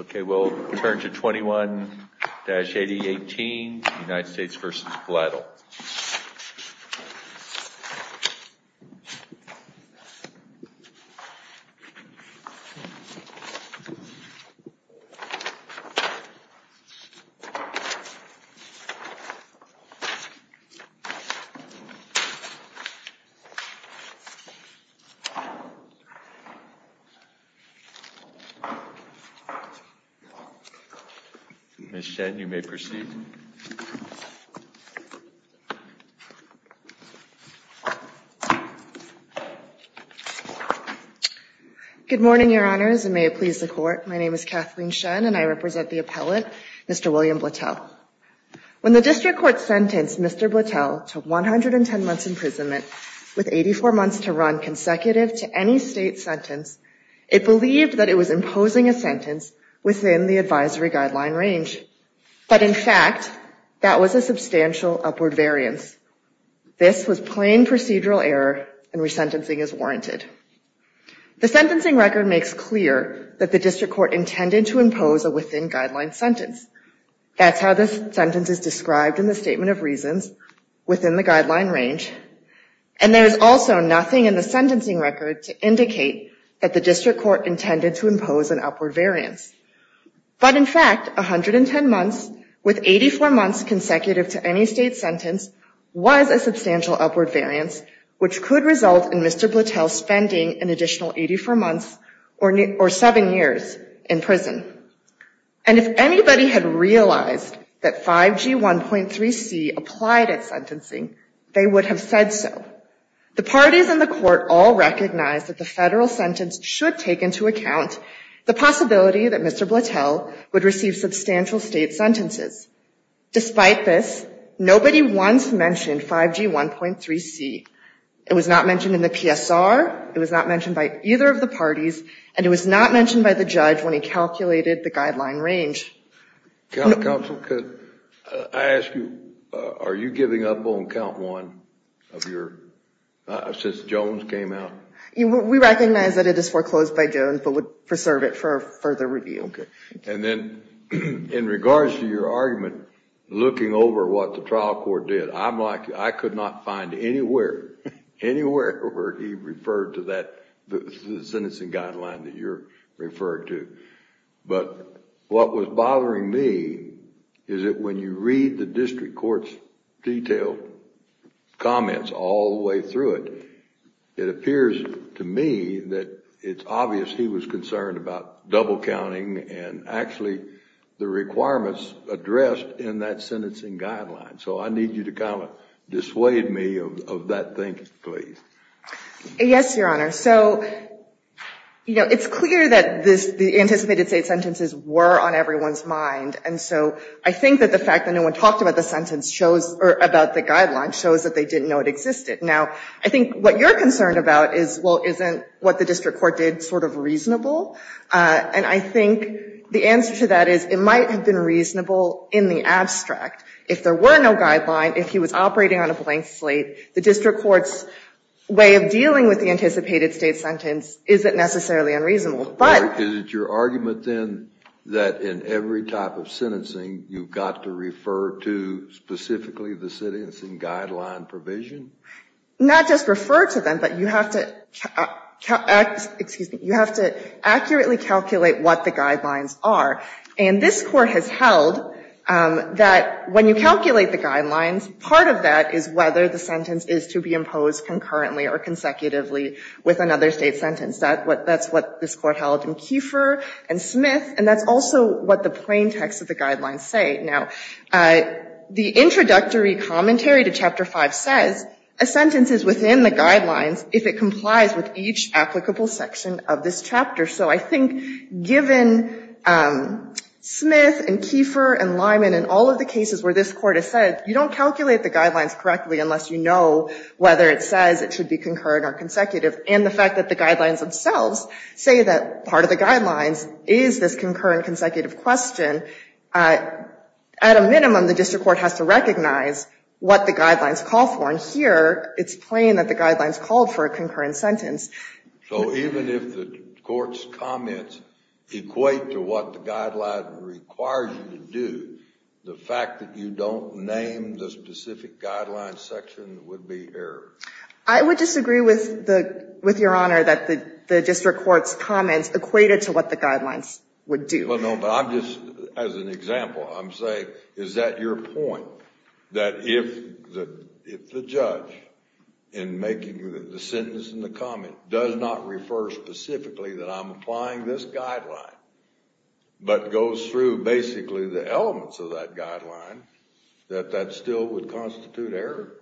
Okay, we'll turn to 21-8018, United States v. Blattel. Ms. Shen, you may proceed. Good morning, Your Honors, and may it please the Court. My name is Kathleen Shen, and I represent the appellate, Mr. William Blattel. When the District Court sentenced Mr. Blattel to 110 months' imprisonment, with 84 months to run consecutive to any State sentence, it believed that it was imposing a sentence within the advisory guideline range. But in fact, that was a substantial upward variance. This was plain procedural error, and resentencing is warranted. The sentencing record makes clear that the District Court intended to impose a within-guideline sentence. That's how this sentence is described in the Statement of Reasons, within the guideline range. And there is also nothing in the sentencing record to indicate that the District Court intended to impose an upward variance. But in fact, 110 months, with 84 months consecutive to any State sentence, was a substantial upward variance, which could result in Mr. Blattel spending an additional 84 months, or seven years, in prison. And if anybody had realized that 5G1.3c applied at sentencing, they would have said so. The parties in the Court all recognized that the Federal sentence should take into account the possibility that Mr. Blattel would receive substantial State sentences. Despite this, nobody once mentioned 5G1.3c. It was not mentioned in the PSR, it was not mentioned by either of the parties, and it was not mentioned by the judge when he calculated the guideline range. Counsel, could I ask you, are you giving up on count one of your, since Jones came out? We recognize that it is foreclosed by Jones, but would preserve it for further review. Okay. And then, in regards to your argument, looking over what the trial court did, I'm like, I could not find anywhere, anywhere where he referred to that, the sentencing guideline that you're referring to. But what was bothering me is that when you read the district court's detailed comments all the way through it, it appears to me that it's obvious he was concerned about double counting, and actually the requirements addressed in that sentencing guideline. So I need you to kind of dissuade me of that thinking, please. Yes, Your Honor. So, you know, it's clear that the anticipated State sentences were on everyone's mind, and so I think that the fact that no one talked about the sentence shows, or about the guideline, shows that they didn't know it existed. Now, I think what you're concerned about is, well, isn't what the district court did sort of reasonable? And I think the answer to that is it might have been reasonable in the abstract. If there were no guideline, if he was operating on a blank slate, the district court's way of dealing with the anticipated State sentence isn't necessarily unreasonable. Is it your argument, then, that in every type of sentencing, you've got to refer to specifically the sentencing guideline provision? Not just refer to them, but you have to accurately calculate what the guidelines are. And this Court has held that when you calculate the guidelines, part of that is whether the sentence is to be imposed concurrently or consecutively with another State sentence. That's what this Court held in Kiefer and Smith, and that's also what the plain text of the guidelines say. Now, the introductory commentary to Chapter 5 says a sentence is within the guidelines if it complies with each applicable section of this chapter. So I think given Smith and Kiefer and Lyman and all of the cases where this Court has said you don't calculate the guidelines correctly unless you know whether it says it should be concurrent or consecutive, and the fact that the guidelines themselves say that part of the guidelines is this concurrent, consecutive question, at a minimum, the district court has to recognize what the guidelines call for. And here, it's plain that the guidelines called for a concurrent sentence. So even if the Court's comments equate to what the guideline requires you to do, the fact that you don't name the specific guidelines section would be error? I would disagree with Your Honor that the district court's comments equated to what the guidelines would do. Well, no, but I'm just, as an example, I'm saying is that your point, that if the judge, in making the sentence and the comment, does not refer specifically that I'm applying this guideline, but goes through basically the elements of that guideline, that that still would constitute error?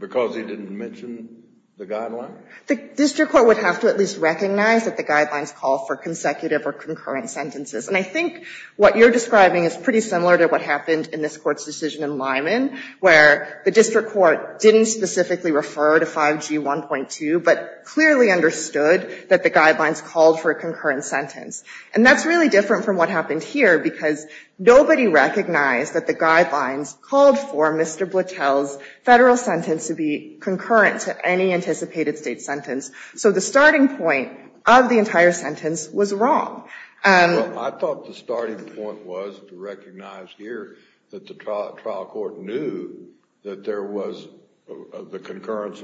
Because he didn't mention the guideline? The district court would have to at least recognize that the guidelines call for consecutive or concurrent sentences. And I think what you're describing is pretty similar to what happened in this Court's decision in Lyman, where the district court didn't specifically refer to 5G 1.2, but clearly understood that the guidelines called for a concurrent sentence. And that's really different from what happened here, because nobody recognized that the guidelines called for Mr. Bluchel's federal sentence to be concurrent to any anticipated state sentence. So the starting point of the entire sentence was wrong. I thought the starting point was to recognize here that the trial court knew that there was the concurrence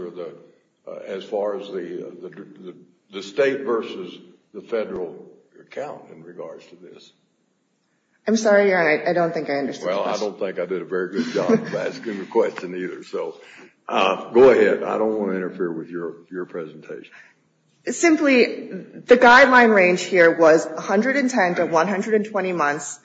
as far as the state versus the federal account in regards to this. I'm sorry, Your Honor, I don't think I understood the question. Well, I don't think I did a very good job of asking the question either. So go ahead. I don't want to interfere with your presentation. Simply, the guideline range here was 110 to 120 months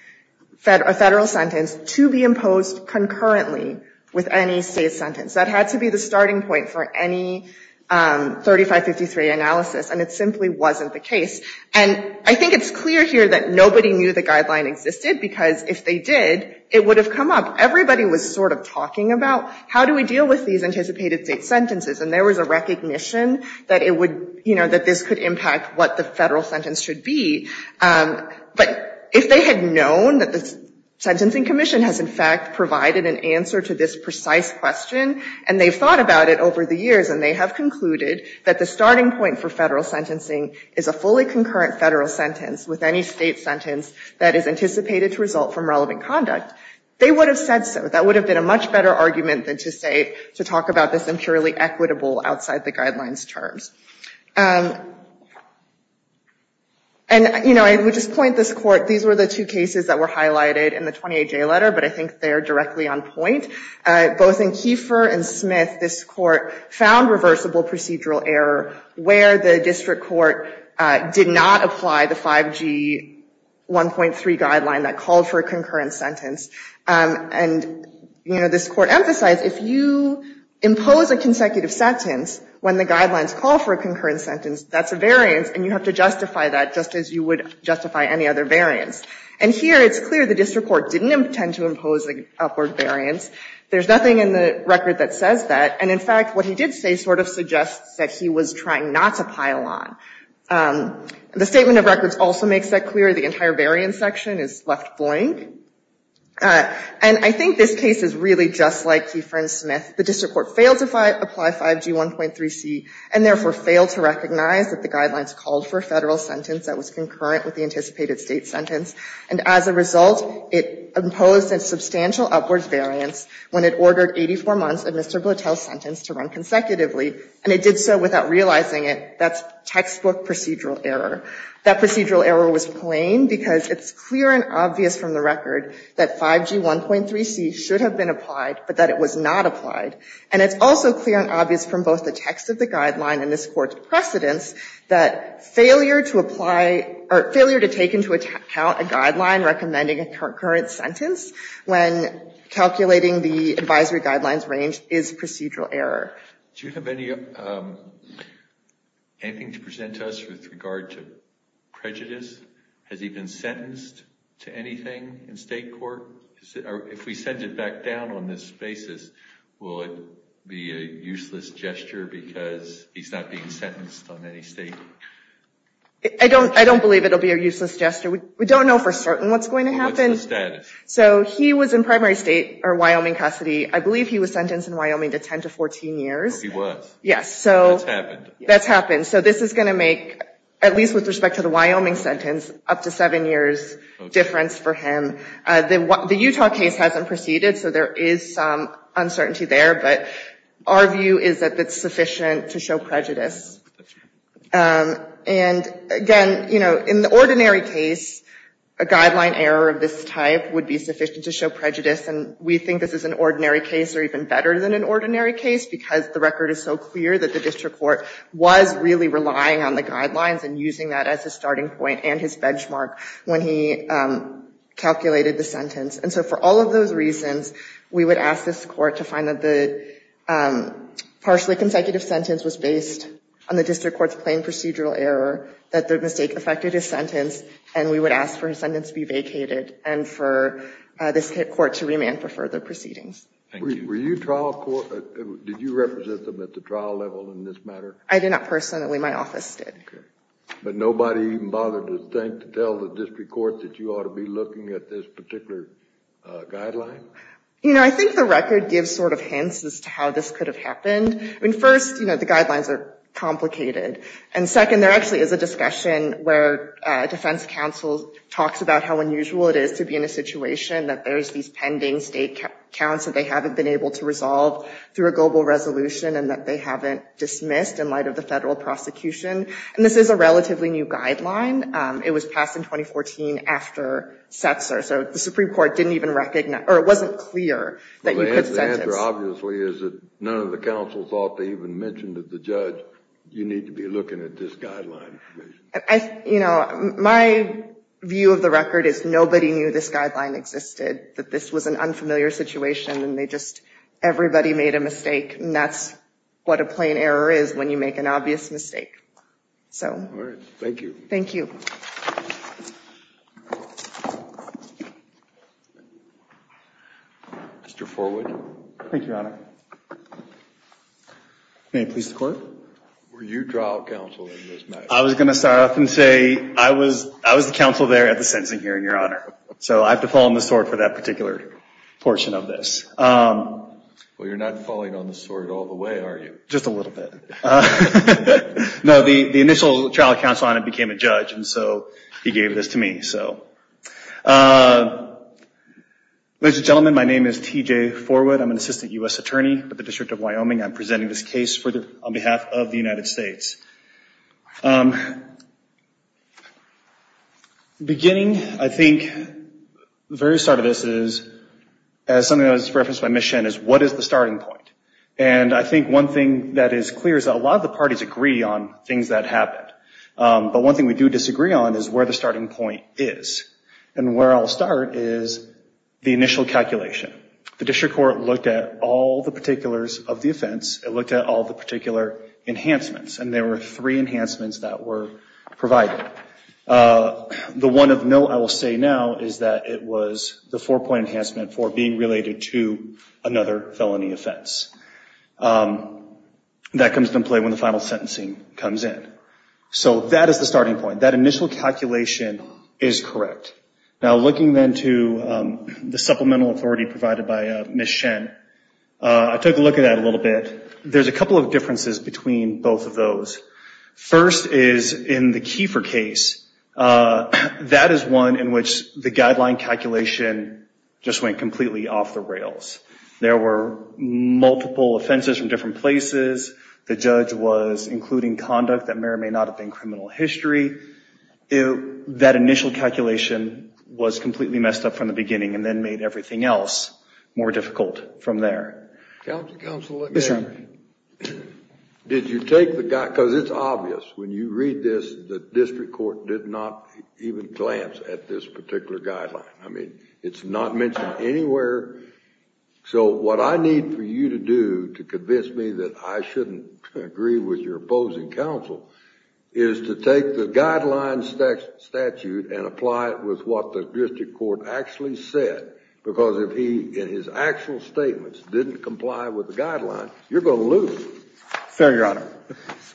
federal sentence to be imposed concurrently with any state sentence. That had to be the starting point for any 3553 analysis, and it simply wasn't the case. And I think it's clear here that nobody knew the guideline existed, because if they did, it would have come up. Everybody was sort of talking about, how do we deal with these anticipated state sentences? And there was a recognition that this could impact what the federal sentence should be. But if they had known that the Sentencing Commission has, in fact, provided an answer to this precise question, and they've thought about it over the years and they have concluded that the starting point for federal sentencing is a fully concurrent federal sentence with any state sentence that is anticipated to result from relevant conduct, they would have said so. That would have been a much better argument than to say, to talk about this impurely equitable outside the guidelines terms. And, you know, I would just point this court. These were the two cases that were highlighted in the 28-J letter, but I think they're directly on point. Both in Kiefer and Smith, this court found reversible procedural error where the district court did not apply the 5G 1.3 guideline that called for a concurrent sentence. And, you know, this court emphasized, if you impose a consecutive sentence when the guidelines call for a concurrent sentence, that's a variance, and you have to justify that just as you would justify any other variance. And here it's clear the district court didn't intend to impose an upward variance. There's nothing in the record that says that. And, in fact, what he did say sort of suggests that he was trying not to pile on. The statement of records also makes that clear. The entire variance section is left blank. And I think this case is really just like Kiefer and Smith. The district court failed to apply 5G 1.3C and, therefore, failed to recognize that the guidelines called for a federal sentence that was concurrent with the anticipated state sentence. And, as a result, it imposed a substantial upward variance when it ordered 84 months of Mr. Blattel's sentence to run consecutively. And it did so without realizing it. That's textbook procedural error. That procedural error was plain because it's clear and obvious from the record that 5G 1.3C should have been applied, but that it was not applied. And it's also clear and obvious from both the text of the guideline and this court's precedence that failure to apply or failure to take into account a guideline recommending a concurrent sentence when calculating the advisory guidelines range is procedural error. Do you have anything to present to us with regard to prejudice? Has he been sentenced to anything in state court? If we send it back down on this basis, will it be a useless gesture because he's not being sentenced on any statement? I don't believe it will be a useless gesture. We don't know for certain what's going to happen. What's the status? So he was in primary state or Wyoming custody. I believe he was sentenced in Wyoming to 10 to 14 years. So he was. Yes. That's happened. That's happened. So this is going to make, at least with respect to the Wyoming sentence, up to 7 years difference for him. The Utah case hasn't proceeded, so there is some uncertainty there. But our view is that it's sufficient to show prejudice. And again, in the ordinary case, a guideline error of this type would be sufficient to show prejudice. And we think this is an ordinary case, or even better than an ordinary case, because the record is so clear that the district court was really relying on the guidelines and using that as a starting point and his benchmark when he calculated the sentence. And so for all of those reasons, we would ask this court to find that the partially consecutive sentence was based on the district court's plain procedural error, that the mistake affected his sentence, and we would ask for his sentence to be vacated and for this court to remand for further proceedings. Thank you. Were you trial court? Did you represent them at the trial level in this matter? I did not personally. My office did. OK. But nobody even bothered to think to tell the district court that you ought to be looking at this particular guideline? You know, I think the record gives sort of hints as to how this could have happened. I mean, first, you know, the guidelines are complicated. And second, there actually is a discussion where defense counsel talks about how unusual it is to be in a situation that there's these pending state counts that they haven't been able to resolve through a global resolution and that they haven't dismissed in light of the federal prosecution. And this is a relatively new guideline. It was passed in 2014 after Setzer, so the Supreme Court didn't even recognize or it wasn't clear that you could sentence. Well, the answer obviously is that none of the counsel thought to even mention to the judge, you need to be looking at this guideline. You know, my view of the record is nobody knew this guideline existed, that this was an unfamiliar situation and they just, everybody made a mistake. And that's what a plain error is when you make an obvious mistake. So. All right. Thank you. Thank you. Mr. Forwood. Thank you, Your Honor. May it please the Court. Were you trial counsel in this matter? I was going to start off and say I was the counsel there at the sentencing hearing, Your Honor. So I have to fall on the sword for that particular portion of this. Well, you're not falling on the sword all the way, are you? Just a little bit. No, the initial trial counsel on it became a judge, and so he gave this to me, so. Ladies and gentlemen, my name is T.J. Forwood. I'm an assistant U.S. attorney with the District of Wyoming. I'm presenting this case on behalf of the United States. Beginning, I think, the very start of this is, as something that was referenced by Ms. Shen, is what is the starting point? And I think one thing that is clear is that a lot of the parties agree on things that happened. But one thing we do disagree on is where the starting point is. And where I'll start is the initial calculation. The district court looked at all the particulars of the offense. It looked at all the particular enhancements. And there were three enhancements that were provided. The one of note I will say now is that it was the four-point enhancement for being related to another felony offense. That comes into play when the final sentencing comes in. So that is the starting point. That initial calculation is correct. Now, looking then to the supplemental authority provided by Ms. Shen, I took a look at that a little bit. There's a couple of differences between both of those. First is in the Kiefer case, that is one in which the guideline calculation just went completely off the rails. There were multiple offenses from different places. The judge was including conduct that may or may not have been criminal history. That initial calculation was completely messed up from the beginning and then made everything else more difficult from there. Mr. Henry. Did you take the guide? Because it's obvious when you read this, the district court did not even glance at this particular guideline. I mean, it's not mentioned anywhere. So what I need for you to do to convince me that I shouldn't agree with your opposing counsel is to take the guideline statute and apply it with what the district court actually said. Because if he, in his actual statements, didn't comply with the guideline, you're going to lose. Fair, Your Honor.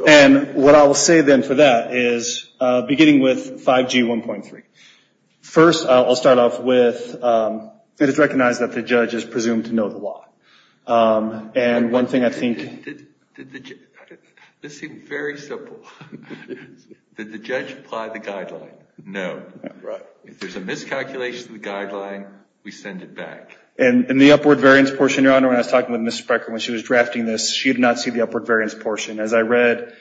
And what I will say then for that is, beginning with 5G 1.3, first I'll start off with it is recognized that the judge is presumed to know the law. And one thing I think... This seems very simple. Did the judge apply the guideline? No. Right. If there's a miscalculation of the guideline, we send it back. In the upward variance portion, Your Honor, when I was talking with Mrs. Brecker when she was drafting this, she did not see the upward variance portion. As I read,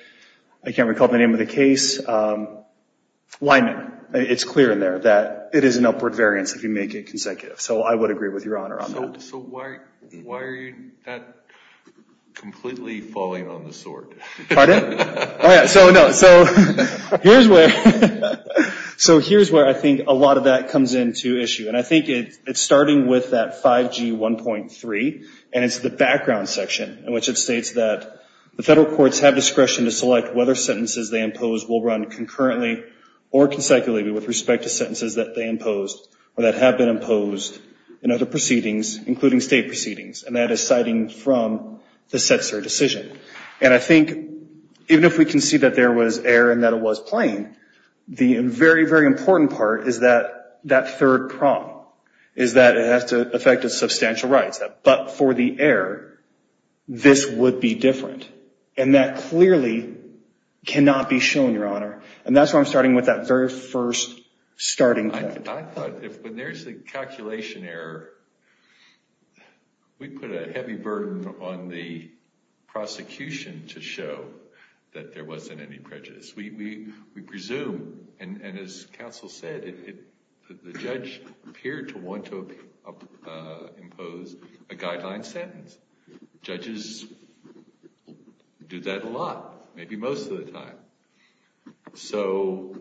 I can't recall the name of the case. Why not? It's clear in there that it is an upward variance if you make it consecutive. So I would agree with Your Honor on that. So why are you not completely falling on the sword? Pardon? So here's where I think a lot of that comes into issue. And I think it's starting with that 5G 1.3, and it's the background section, in which it states that the federal courts have discretion to select whether sentences they impose will run concurrently or consecutively with respect to sentences that they imposed or that have been imposed in other proceedings, including state proceedings. And that is citing from the CSER decision. And I think even if we can see that there was error and that it was plain, the very, very important part is that third prong, is that it has to affect the substantial rights. But for the error, this would be different. And that clearly cannot be shown, Your Honor. And that's where I'm starting with that very first starting point. I thought if there's a calculation error, we put a heavy burden on the prosecution to show that there wasn't any prejudice. We presume, and as counsel said, the judge appeared to want to impose a guideline sentence. Judges do that a lot, maybe most of the time. So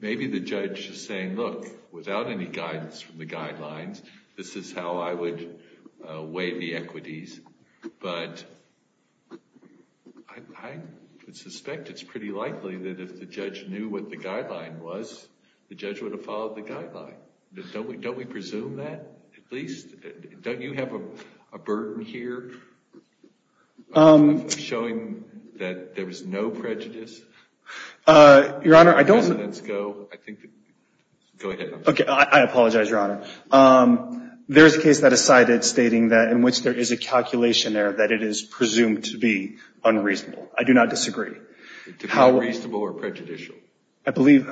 maybe the judge is saying, look, without any guidance from the guidelines, this is how I would weigh the equities. But I would suspect it's pretty likely that if the judge knew what the guideline was, the judge would have followed the guideline. Don't we presume that at least? Don't you have a burden here showing that there was no prejudice? Your Honor, I don't. Go ahead. Okay. I apologize, Your Honor. There is a case that is cited stating that in which there is a calculation error that it is presumed to be unreasonable. I do not disagree. To be unreasonable or prejudicial? I believe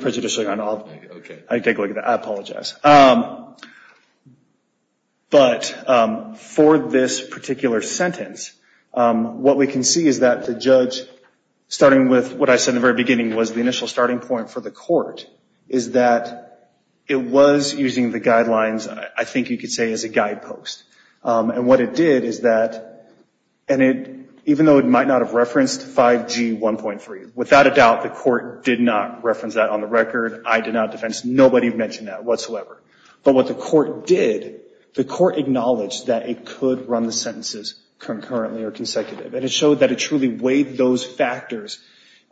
prejudicial, Your Honor. Okay. I take a look at that. I apologize. But for this particular sentence, what we can see is that the judge, starting with what I said in the very beginning was the initial starting point for the court, is that it was using the guidelines, I think you could say, as a guidepost. And what it did is that, and even though it might not have referenced 5G 1.3, without a doubt the court did not reference that on the record. I did not defense. Nobody mentioned that whatsoever. But what the court did, the court acknowledged that it could run the sentences concurrently or consecutive. And it showed that it truly weighed those factors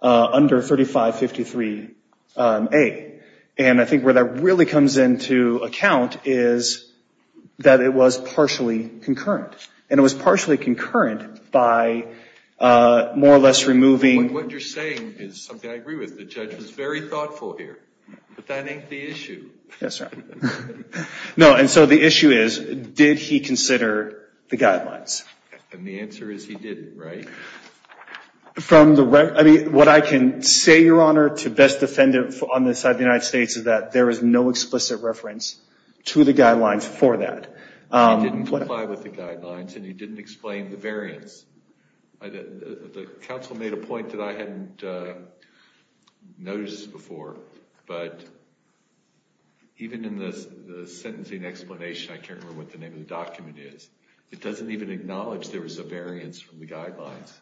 under 3553A. And I think where that really comes into account is that it was partially concurrent. And it was partially concurrent by more or less removing. What you're saying is something I agree with. The judge was very thoughtful here. But that ain't the issue. Yes, sir. No, and so the issue is, did he consider the guidelines? And the answer is he didn't, right? From the, I mean, what I can say, Your Honor, to best defend it on the side of the United States is that there is no explicit reference to the guidelines for that. He didn't comply with the guidelines and he didn't explain the variance. The counsel made a point that I hadn't noticed before. But even in the sentencing explanation, I can't remember what the name of the document is. It doesn't even acknowledge there was a variance from the guidelines.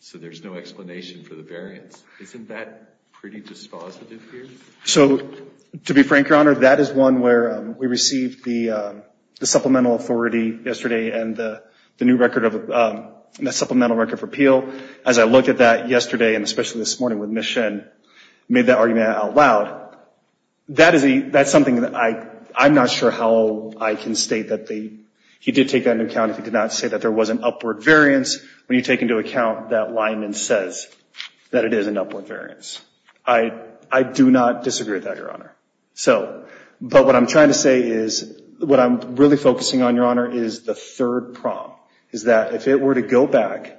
So there's no explanation for the variance. Isn't that pretty dispositive here? So, to be frank, Your Honor, that is one where we received the supplemental authority yesterday and the new record of supplemental record of repeal. As I looked at that yesterday and especially this morning with Ms. Shen, made that argument out loud. That's something that I'm not sure how I can state that he did take that into account. He did not say that there was an upward variance. When you take into account that Lyman says that it is an upward variance. I do not disagree with that, Your Honor. But what I'm trying to say is, what I'm really focusing on, Your Honor, is the third problem. Is that if it were to go back,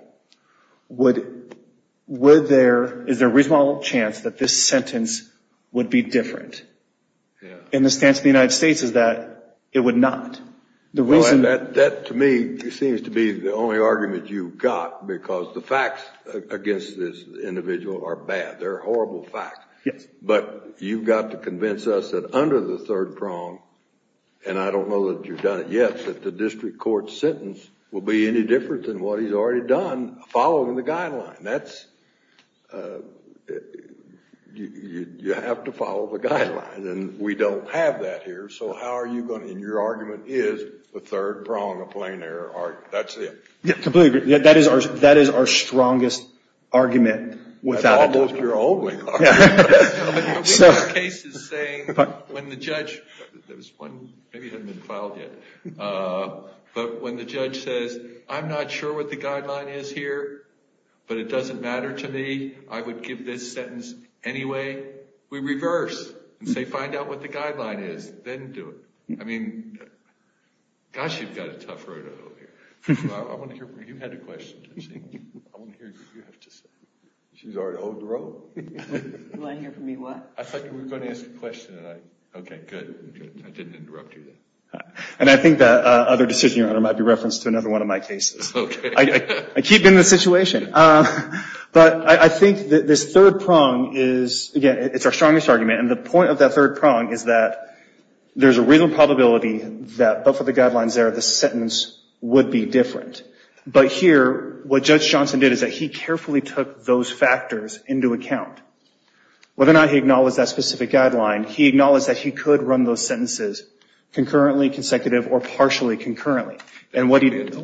is there a reasonable chance that this sentence would be different? And the stance of the United States is that it would not. That, to me, seems to be the only argument you've got because the facts against this individual are bad. They're horrible facts. Yes. But you've got to convince us that under the third prong, and I don't know that you've done it yet, that the district court sentence will be any different than what he's already done following the guideline. That's, you have to follow the guideline. And we don't have that here. So, how are you going to, and your argument is the third prong of plain error. That's it. Completely agree. That is our strongest argument. Almost your only argument. We have cases saying when the judge, maybe it hasn't been filed yet, but when the judge says, I'm not sure what the guideline is here, but it doesn't matter to me, I would give this sentence anyway. We reverse and say, find out what the guideline is, then do it. I mean, gosh, you've got a tough road ahead of you. I want to hear from you. You had a question. I want to hear what you have to say. She's already owed the role. You want to hear from me what? I thought you were going to ask a question, and I, okay, good. I didn't interrupt you there. And I think that other decision, Your Honor, might be referenced to another one of my cases. Okay. I keep in this situation. But I think that this third prong is, again, it's our strongest argument, and the point of that third prong is that there's a real probability that both of the guidelines there, the sentence would be different. But here, what Judge Johnson did is that he carefully took those factors into account. Whether or not he acknowledged that specific guideline, he acknowledged that he could run those sentences concurrently, consecutive, or partially concurrently. And what he did is,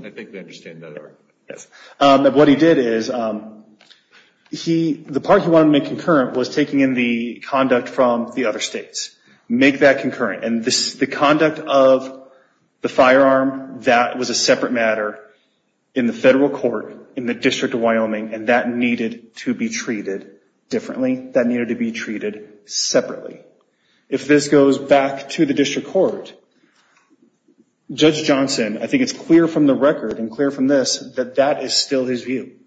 the part he wanted to make concurrent was taking in the conduct from the other states. Make that concurrent. And the conduct of the firearm, that was a separate matter in the federal court in the District of Wyoming, and that needed to be treated differently. That needed to be treated separately. If this goes back to the district court, Judge Johnson, I think it's clear from the record and clear from this that that is still his view,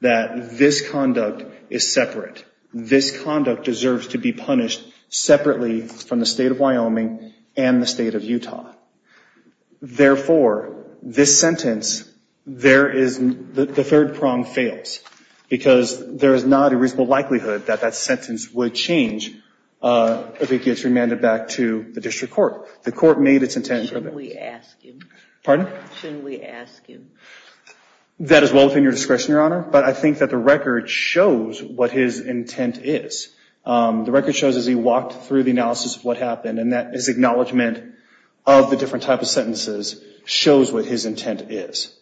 that this conduct is separate. This conduct deserves to be punished separately from the State of Wyoming and the State of Utah. Therefore, this sentence, there is, the third prong fails, because there is not a reasonable likelihood that that sentence would change if it gets remanded back to the district court. The court made its intent. Shouldn't we ask him? Pardon? Shouldn't we ask him? That is well within your discretion, Your Honor. But I think that the record shows what his intent is. The record shows as he walked through the analysis of what happened, and that his acknowledgement of the different type of sentences shows what his intent is.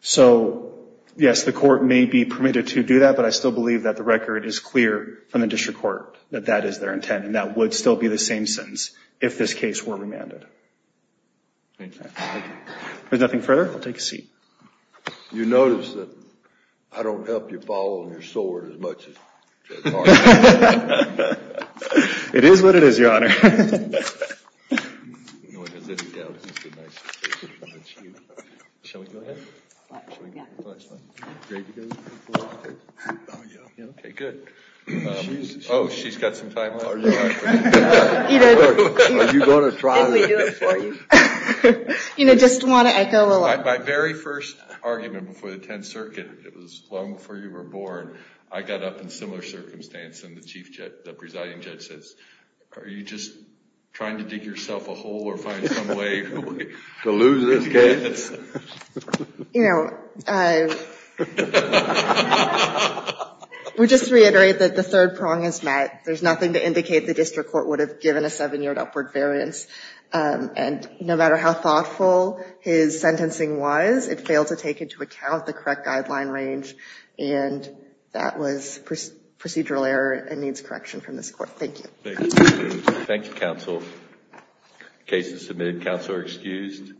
So, yes, the court may be permitted to do that, but I still believe that the record is clear from the district court that that is their intent, and that would still be the same sentence if this case were remanded. If there's nothing further, I'll take a seat. You notice that I don't help you fall on your sword as much as Judge Hart. It is what it is, Your Honor. Okay, good. Oh, she's got some time left. Are you going to try? Didn't we do it for you? You know, just want to echo a lot. My very first argument before the Tenth Circuit, it was long before you were born, I got up in similar circumstance, and the Chief Judge, the presiding judge says, are you just trying to dig yourself a hole or find some way to lose this case? You know, we just reiterate that the third prong is met. There's nothing to indicate the district court would have given a seven-year upward variance. And no matter how thoughtful his sentencing was, it failed to take into account the correct guideline range, and that was procedural error and needs correction from this court. Thank you. Thank you, counsel. Case is submitted. Counsel are excused.